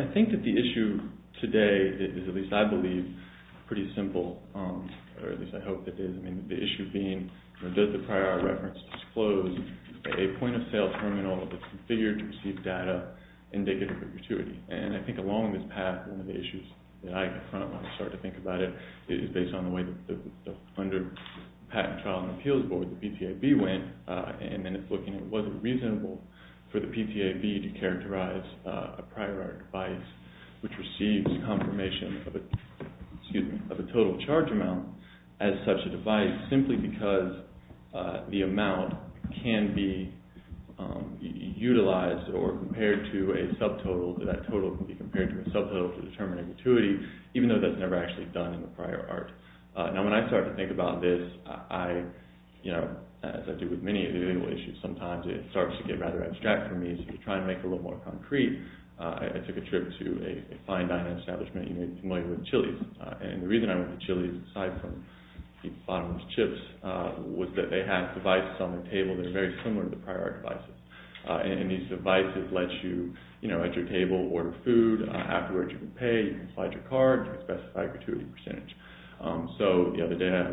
I think that the issue today is, at least I believe, pretty simple, or at least I hope that it is. I mean, the issue being, does the prior reference disclose a point of sale terminal that's configured to receive data indicative of gratuity? And I think along this path, one of the issues that I confront when I start to think about it is based on the way that under the Patent, Trial, and Appeals Board, the PTAB went, and then it's looking at was it reasonable for the PTAB to characterize a perceived confirmation of a total charge amount as such a device simply because the amount can be utilized or compared to a subtotal, that total can be compared to a subtotal to determine a gratuity, even though that's never actually done in the prior art. Now when I start to think about this, as I do with many of the legal issues sometimes, it starts to get rather abstract for me, so to try and make it a little more concrete, I took a trip to a fine dining establishment you may be familiar with, Chili's. And the reason I went to Chili's aside from the bottomless chips was that they had devices on the table that are very similar to the prior art devices. And these devices let you, you know, at your table, order food, afterwards you can pay, you can slide your card, you can specify a gratuity percentage. So the other day I had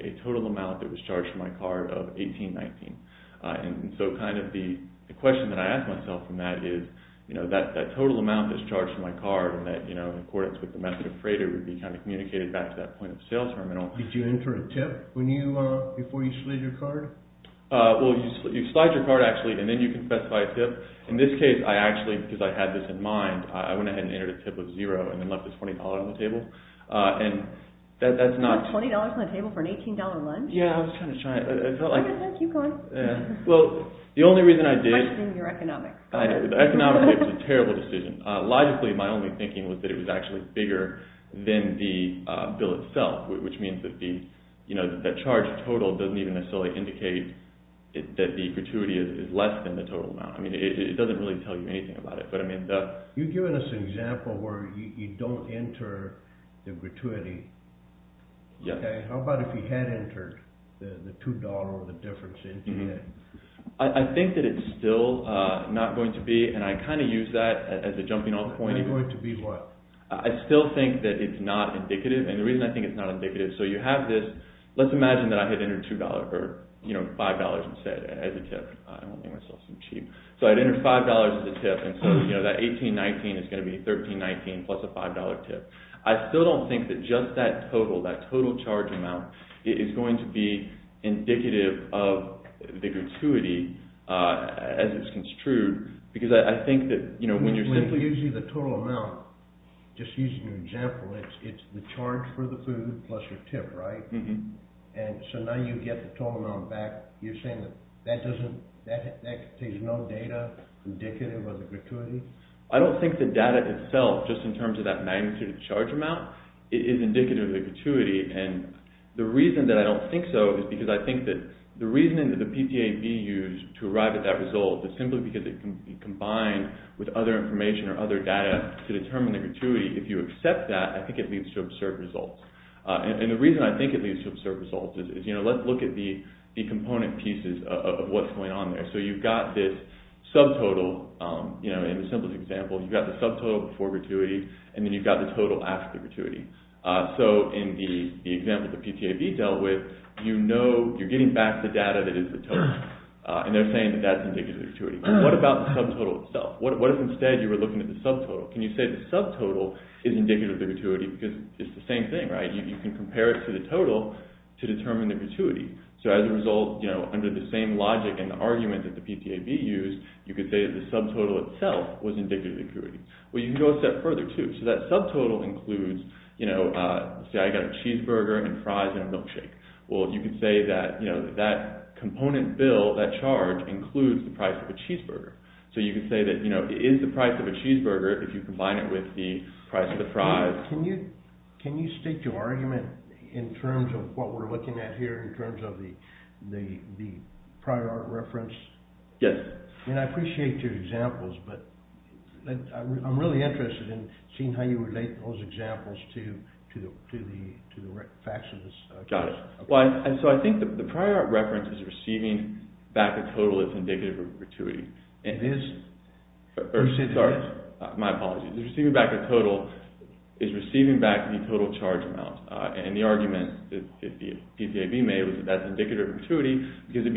a total amount that was charged for my card of $18.19. And so kind of the question that I ask myself from that is, you know, that total amount that's charged for my card, and that, you know, in accordance with the method of freighter would be kind of communicated back to that point of sale terminal. Did you enter a tip when you, before you slid your card? Well, you slide your card actually, and then you can specify a tip. In this case, I actually, because I had this in mind, I went ahead and entered a tip of zero and then left this $20 on the table. And that's not... You left $20 on the table for an $18 lunch? Yeah, I was kind of shy. I felt like... Okay, keep going. Yeah. Well, the only reason I did... You're questioning your economics. I know. The economics makes a terrible decision. Logically, my only thinking was that it was actually bigger than the bill itself, which means that the, you know, that charge total doesn't even necessarily indicate that the gratuity is less than the total amount. I mean, it doesn't really tell you anything about it. But I mean, the... You've given us an example where you don't enter the gratuity. Yeah. Okay. How about if you had entered the $2 or the difference into it? I think that it's still not going to be, and I kind of use that as a jumping off point. Not going to be what? I still think that it's not indicative. And the reason I think it's not indicative, so you have this... Let's imagine that I had entered $2 or, you know, $5 instead as a tip. I don't want to make myself seem cheap. So I'd enter $5 as a tip, and so, you know, that $18.19 is going to be $13.19 plus a $5 tip. I still don't think that just that total, that total charge amount is going to be indicative of the gratuity as it's construed, because I think that, you know, when you're simply... You're saying that that doesn't... There's no data indicative of the gratuity? I don't think the data itself, just in terms of that magnitude of the charge amount, is indicative of the gratuity. And the reason that I don't think so is because I think that the reason that the PTAB used to arrive at that result is simply because it combined with other information or other data to determine the gratuity. If you accept that, I think it leads to absurd results. And the reason I think it leads to absurd results is, you know, let's look at the component pieces of what's going on there. So you've got this subtotal, you know, in the simplest example, you've got the subtotal before gratuity, and then you've got the total after the gratuity. So in the example the PTAB dealt with, you know, you're getting back the data that is the total, and they're saying that that's indicative of the gratuity. What about the subtotal itself? What if instead you were looking at the subtotal? Can you say the subtotal is indicative of the gratuity? Because it's the same thing, right? You can compare it to the total to determine the gratuity. So as a result, you know, under the same logic and the argument that the PTAB used, you could say that the subtotal itself was indicative of the gratuity. Well, you can go a step further too. So that subtotal includes, you know, say I got a cheeseburger and fries and a milkshake. Well, you could say that, you know, that component bill, that charge, includes the price of a cheeseburger. So you could say that, you know, it is the price of a cheeseburger if you combine it with the price of the fries. Can you state your argument in terms of what we're looking at here, in terms of the prior art reference? Yes. I mean, I appreciate your examples, but I'm really interested in seeing how you relate those examples to the facts of this. Got it. So I think the prior art reference is receiving back the total as indicative of gratuity. It is? Sorry, my apologies. Receiving back the total is receiving back the total charge amount. And the argument that the PTAB made was that that's indicative of gratuity because it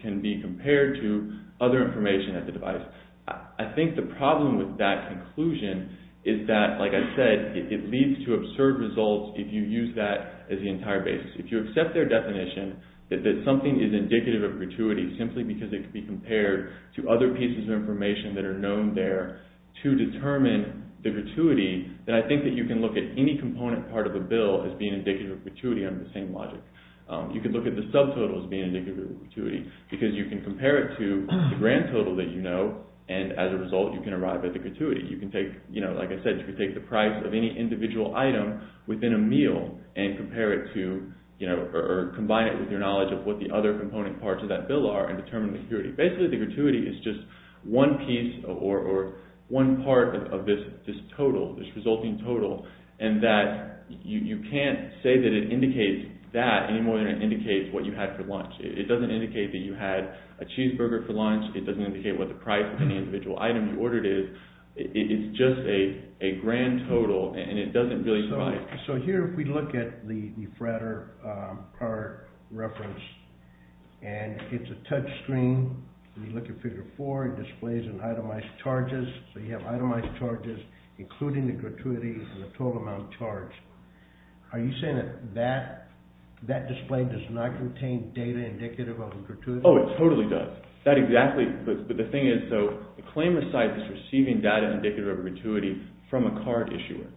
can be compared to other information at the device. I think the problem with that conclusion is that, like I said, it leads to absurd results if you use that as the entire basis. If you accept their definition that something is indicative of gratuity simply because it can be compared to other pieces of information that are known there to determine the gratuity, then I think that you can look at any component part of the bill as being indicative of gratuity under the same logic. You could look at the subtotal as being indicative of gratuity because you can compare it to the grand total that you know, and as a result, you can arrive at the gratuity. You can take, you know, like I said, you can take the price of any individual item within a meal and compare it to, you know, or combine it with your knowledge of what the other component parts of that bill are and determine the gratuity. Basically, the gratuity is just one piece or one part of this total, this resulting total, and that you can't say that it indicates that any more than it indicates what you had for lunch. It doesn't indicate that you had a cheeseburger for lunch. It doesn't indicate what the price of any individual item you ordered is. It's just a grand total, and it doesn't really provide… So here, if we look at the Frater card reference, and it's a touch screen. When you look at Figure 4, it displays an itemized charges. So you have itemized charges including the gratuity and the total amount charged. Are you saying that that display does not contain data indicative of a gratuity? Oh, it totally does. That exactly, but the thing is, so the claimant's side is receiving data indicative of a gratuity from a card issuer.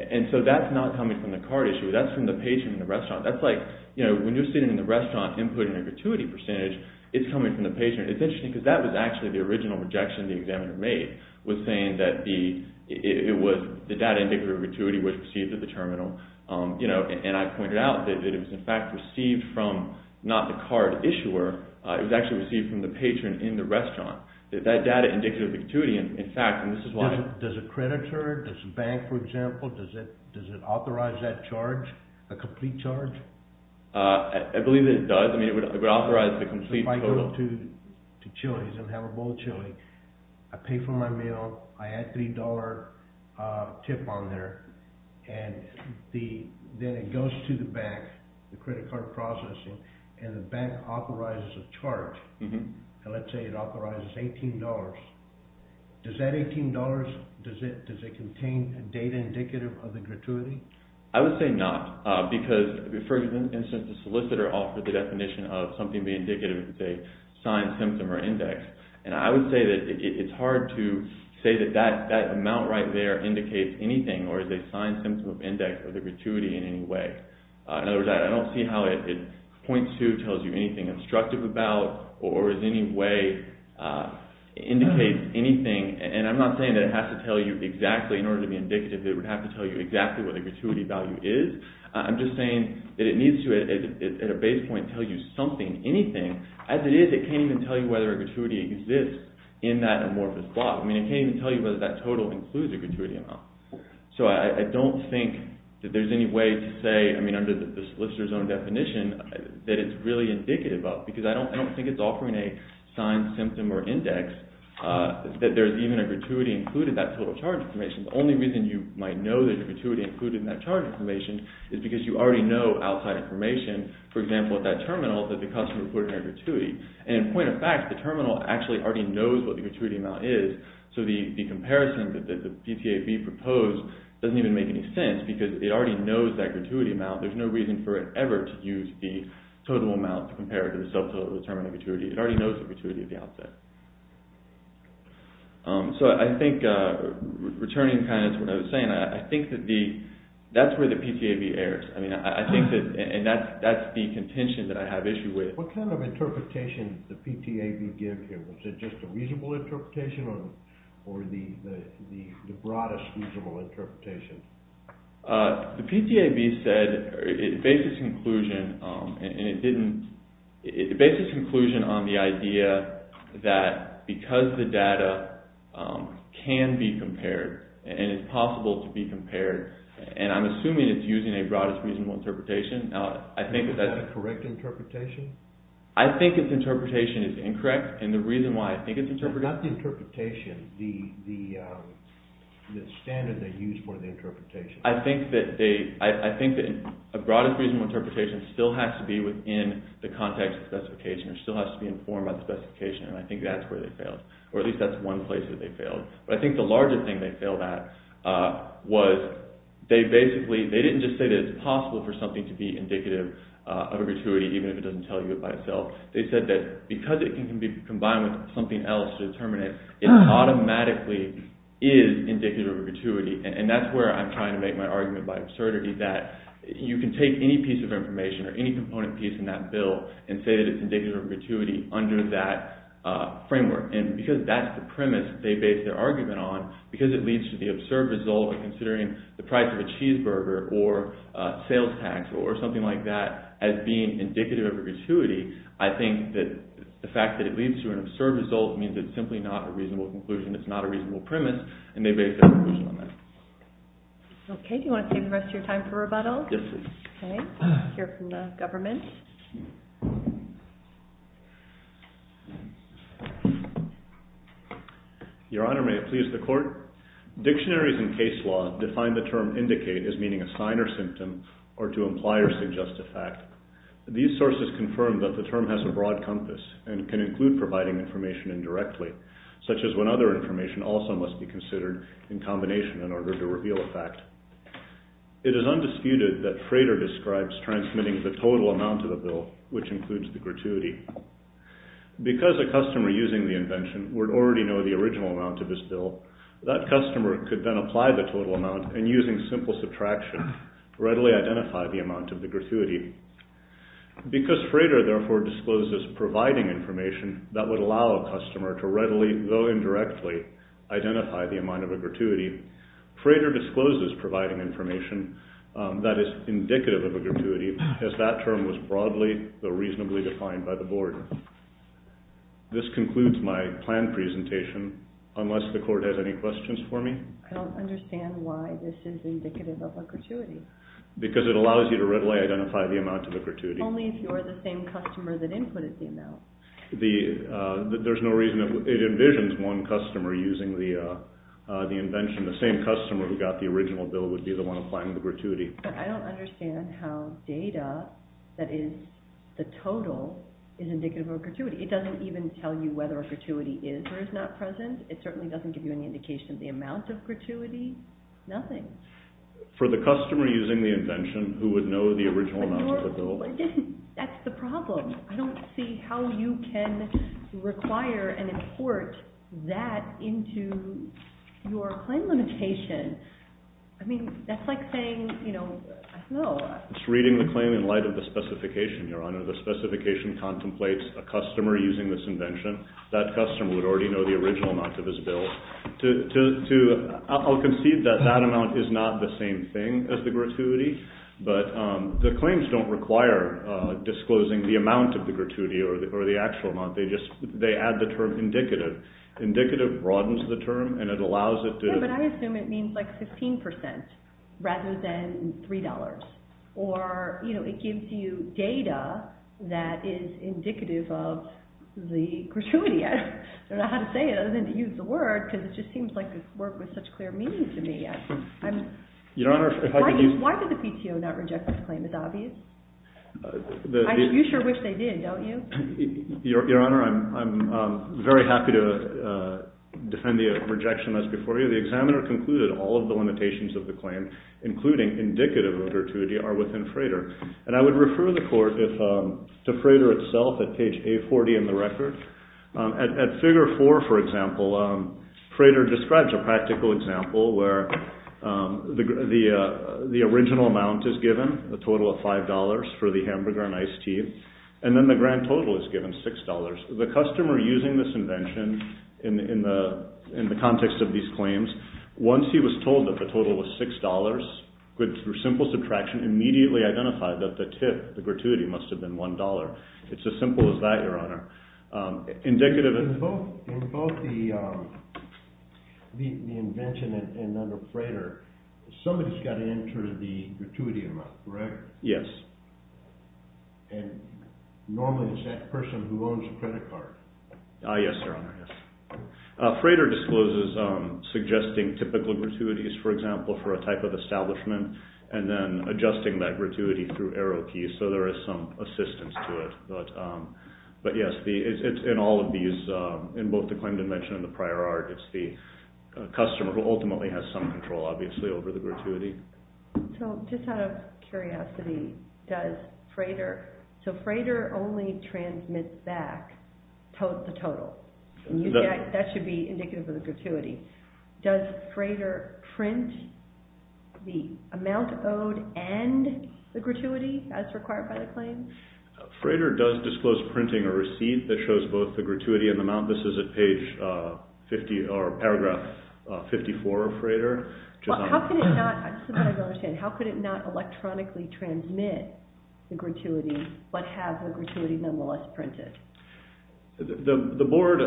And so that's not coming from the card issuer. That's from the patron in the restaurant. That's like when you're sitting in the restaurant and putting a gratuity percentage, it's coming from the patron. It's interesting because that was actually the original rejection the examiner made, was saying that the data indicative of a gratuity was received at the terminal, and I pointed out that it was in fact received from not the card issuer. It was actually received from the patron in the restaurant. That data indicative of a gratuity, in fact, and this is why… Does a creditor, does a bank, for example, does it authorize that charge, a complete charge? I believe that it does. I mean it would authorize the complete total. If I go to Chili's and have a bowl of chili, I pay for my meal, I add $3 tip on there, and then it goes to the bank, the credit card processing, and the bank authorizes a charge. And let's say it authorizes $18. Does that $18, does it contain a data indicative of a gratuity? I would say not because, for instance, the solicitor offered the definition of something being indicative of a signed symptom or index, and I would say that it's hard to say that that amount right there indicates anything or is a signed symptom of index or the gratuity in any way. In other words, I don't see how it points to, tells you anything instructive about, or in any way indicates anything. And I'm not saying that it has to tell you exactly in order to be indicative. It would have to tell you exactly what the gratuity value is. I'm just saying that it needs to, at a base point, tell you something, anything. As it is, it can't even tell you whether a gratuity exists in that amorphous plot. I mean it can't even tell you whether that total includes a gratuity amount. So I don't think that there's any way to say, I mean under the solicitor's own definition, that it's really indicative of. Because I don't think it's offering a signed symptom or index, that there's even a gratuity included in that total charge information. The only reason you might know there's a gratuity included in that charge information is because you already know outside information. For example, at that terminal, that the customer put in a gratuity. And in point of fact, the terminal actually already knows what the gratuity amount is. So the comparison that the PTAB proposed doesn't even make any sense because it already knows that gratuity amount. There's no reason for it ever to use the total amount to compare it to the sub-total of the terminal gratuity. It already knows the gratuity at the outset. So I think, returning kind of to what I was saying, I think that that's where the PTAB errs. I mean I think that, and that's the contention that I have issue with. What kind of interpretation did the PTAB give here? Was it just a reasonable interpretation or the broadest reasonable interpretation? The PTAB said, it based its conclusion on the idea that because the data can be compared and it's possible to be compared, and I'm assuming it's using a broadest reasonable interpretation. Is that the correct interpretation? I think its interpretation is incorrect, and the reason why I think it's incorrect Not the interpretation, the standard they used for the interpretation. I think that a broadest reasonable interpretation still has to be within the context of specification or still has to be informed by the specification, and I think that's where they failed. Or at least that's one place that they failed. But I think the larger thing they failed at was they basically, they didn't just say that it's possible for something to be indicative of a gratuity even if it doesn't tell you it by itself. They said that because it can be combined with something else to determine it, it automatically is indicative of a gratuity. And that's where I'm trying to make my argument by absurdity that you can take any piece of information or any component piece in that bill and say that it's indicative of a gratuity under that framework. And because that's the premise they based their argument on, because it leads to the absurd result of considering the price of a cheeseburger or sales tax or something like that as being indicative of a gratuity, I think that the fact that it leads to an absurd result means it's simply not a reasonable conclusion. It's not a reasonable premise, and they based their conclusion on that. Okay. Do you want to save the rest of your time for rebuttal? Yes, please. Okay. We'll hear from the government. Your Honor, may it please the Court? Dictionaries in case law define the term indicate as meaning a sign or symptom or to imply or suggest a fact. These sources confirm that the term has a broad compass and can include providing information indirectly, such as when other information also must be considered in combination in order to reveal a fact. It is undisputed that Frater describes transmitting the total amount of a bill, which includes the gratuity. Because a customer using the invention would already know the original amount of his bill, that customer could then apply the total amount and using simple subtraction readily identify the amount of the gratuity Because Frater therefore discloses providing information that would allow a customer to readily, though indirectly, identify the amount of a gratuity, Frater discloses providing information that is indicative of a gratuity as that term was broadly, though reasonably, defined by the Board. This concludes my planned presentation. Unless the Court has any questions for me? I don't understand why this is indicative of a gratuity. Because it allows you to readily identify the amount of a gratuity. Only if you're the same customer that inputted the amount. There's no reason that it envisions one customer using the invention. The same customer who got the original bill would be the one applying the gratuity. I don't understand how data that is the total is indicative of a gratuity. It doesn't even tell you whether a gratuity is or is not present. It certainly doesn't give you any indication of the amount of gratuity. Nothing. For the customer using the invention, who would know the original amount of the bill... But that's the problem. I don't see how you can require and import that into your claim limitation. I mean, that's like saying, you know, I don't know. It's reading the claim in light of the specification, Your Honor. The specification contemplates a customer using this invention. That customer would already know the original amount of his bill. I'll concede that that amount is not the same thing as the gratuity. But the claims don't require disclosing the amount of the gratuity or the actual amount. They add the term indicative. Indicative broadens the term and it allows it to... Yeah, but I assume it means like 15% rather than $3. Or, you know, it gives you data that is indicative of the gratuity. I don't know how to say it other than to use the word because it just seems like a word with such clear meaning to me. Your Honor, if I could use... Why did the PTO not reject this claim? Is it obvious? You sure wish they did, don't you? Your Honor, I'm very happy to defend the rejection as before. The examiner concluded all of the limitations of the claim, including indicative of gratuity, are within Frader. And I would refer the court to Frader itself at page A40 in the record. At figure 4, for example, Frader describes a practical example where the original amount is given, a total of $5 for the hamburger and iced tea, and then the grand total is given, $6. The customer using this invention in the context of these claims, once he was told that the total was $6, with simple subtraction, immediately identified that the tip, the gratuity, must have been $1. It's as simple as that, Your Honor. Indicative of... In both the invention and under Frader, somebody's got to enter the gratuity amount, correct? Yes. And normally it's that person who owns the credit card. Yes, Your Honor, yes. Frader discloses suggesting typical gratuities, for example, for a type of establishment, and then adjusting that gratuity through arrow keys, so there is some assistance to it. But, yes, in all of these, in both the claim dimension and the prior art, it's the customer who ultimately has some control, obviously, over the gratuity. So just out of curiosity, does Frader... That should be indicative of the gratuity. Does Frader print the amount owed and the gratuity as required by the claim? Frader does disclose printing a receipt that shows both the gratuity and the amount. This is at paragraph 54 of Frader. How could it not electronically transmit the gratuity, but have the gratuity nonetheless printed? The Board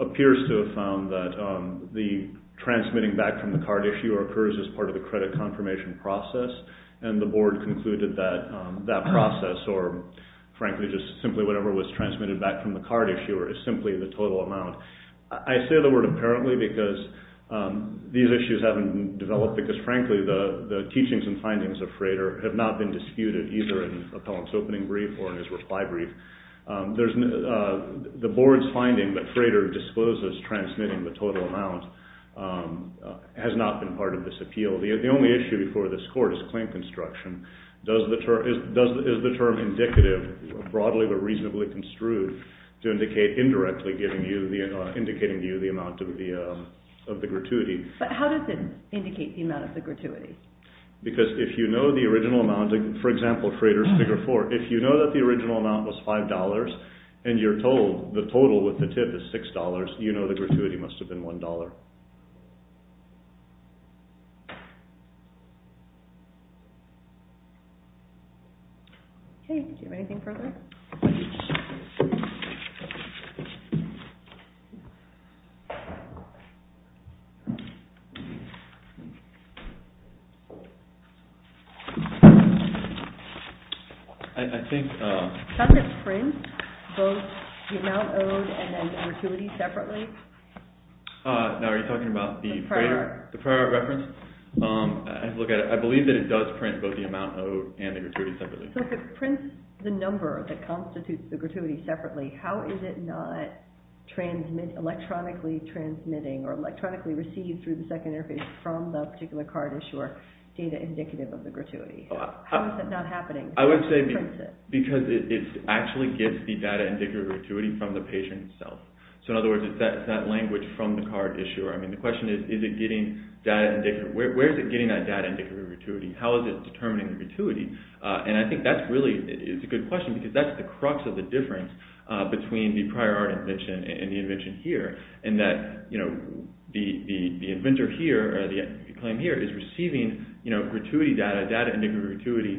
appears to have found that the transmitting back from the card issuer occurs as part of the credit confirmation process, and the Board concluded that that process, or, frankly, just simply whatever was transmitted back from the card issuer, is simply the total amount. I say the word apparently because these issues haven't developed because, frankly, the teachings and findings of Frader have not been disputed, either in Appellant's opening brief or in his reply brief. The Board's finding that Frader discloses transmitting the total amount has not been part of this appeal. The only issue before this Court is claim construction. Is the term indicative, broadly but reasonably construed, to indicate indirectly, indicating to you the amount of the gratuity? But how does it indicate the amount of the gratuity? Because if you know the original amount, for example, Frader's Figure 4, if you know that the original amount was $5 and you're told the total with the tip is $6, you know the gratuity must have been $1. Okay. Do you have anything further? I think... Does it print both the amount owed and then the gratuity separately? Are you talking about the Frader reference? I believe that it does print both the amount owed and the gratuity separately. So if it prints the number that constitutes the gratuity separately, how is it not electronically transmitting or electronically received through the second interface from the particular card issuer, data indicative of the gratuity? How is that not happening? Because it actually gets the data indicative of the gratuity from the patient itself. So in other words, it's that language from the card issuer. The question is, where is it getting that data indicative of the gratuity? How is it determining the gratuity? And I think that's really a good question because that's the crux of the difference between the prior art invention and the invention here in that the inventor here, or the claim here, is receiving gratuity data, data indicative of gratuity,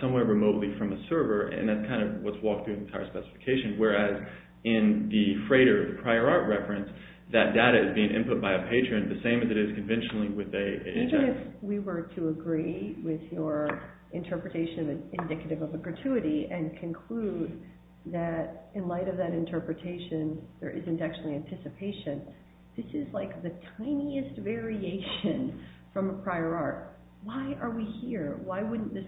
somewhere remotely from a server, and that's kind of what's walked through the entire specification. Whereas in the freighter, the prior art reference, that data is being input by a patron the same as it is conventionally with a... Even if we were to agree with your interpretation that it's indicative of a gratuity and conclude that, in light of that interpretation, there isn't actually anticipation, this is like the tiniest variation from a prior art. Why are we here? Why wouldn't this...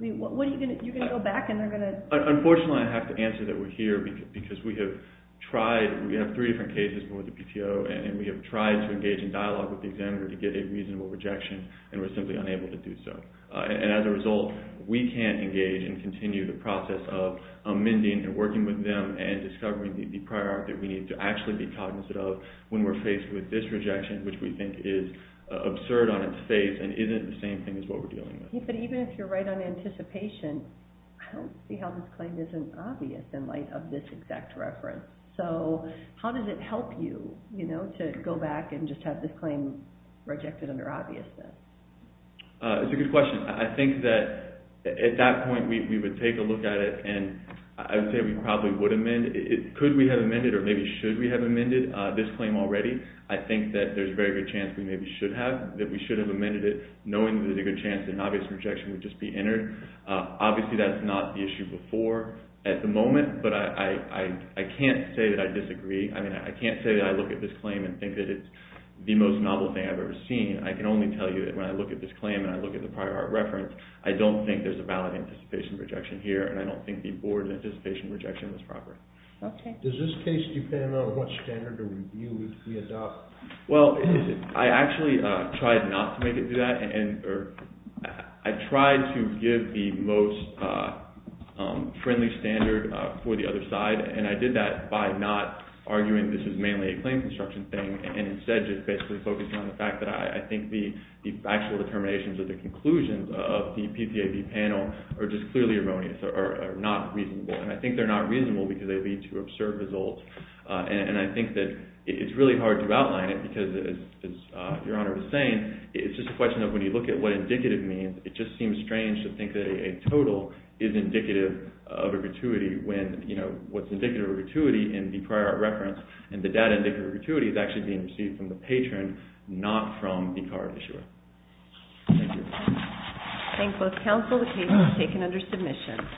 You're going to go back and they're going to... Unfortunately, I have to answer that we're here because we have tried... We have three different cases with the PTO and we have tried to engage in dialogue with the examiner to get a reasonable rejection and we're simply unable to do so. And as a result, we can't engage and continue the process of amending and working with them and discovering the prior art that we need to actually be cognizant of when we're faced with this rejection, which we think is absurd on its face and isn't the same thing as what we're dealing with. But even if you're right on anticipation, I don't see how this claim isn't obvious in light of this exact reference. So how does it help you to go back and just have this claim rejected under obviousness? It's a good question. I think that at that point we would take a look at it and I would say we probably would amend it. Could we have amended it or maybe should we have amended this claim already? I think that there's a very good chance we maybe should have, that we should have amended it knowing that there's a good chance an obvious rejection would just be entered. Obviously that's not the issue before at the moment, but I can't say that I disagree. I mean, I can't say that I look at this claim and think that it's the most novel thing I've ever seen. I can only tell you that when I look at this claim and I look at the prior art reference, I don't think there's a valid anticipation rejection here and I don't think the board's anticipation rejection was proper. Okay. Does this case depend on what standard or review we adopt? Well, I actually tried not to make it do that and I tried to give the most friendly standard for the other side and I did that by not arguing this is mainly a claim construction thing and instead just basically focusing on the fact that I think the factual determinations or the conclusions of the PCAP panel are just clearly erroneous or not reasonable and I think they're not reasonable because they lead to absurd results and I think that it's really hard to outline it because as Your Honor was saying, it's just a question of when you look at what indicative means, it just seems strange to think that a total is indicative of a gratuity when what's indicative of a gratuity in the prior art reference and the data indicative of a gratuity is actually being received from the patron, not from the card issuer. Thank you. Thank you both. Counsel, the case is taken under submission.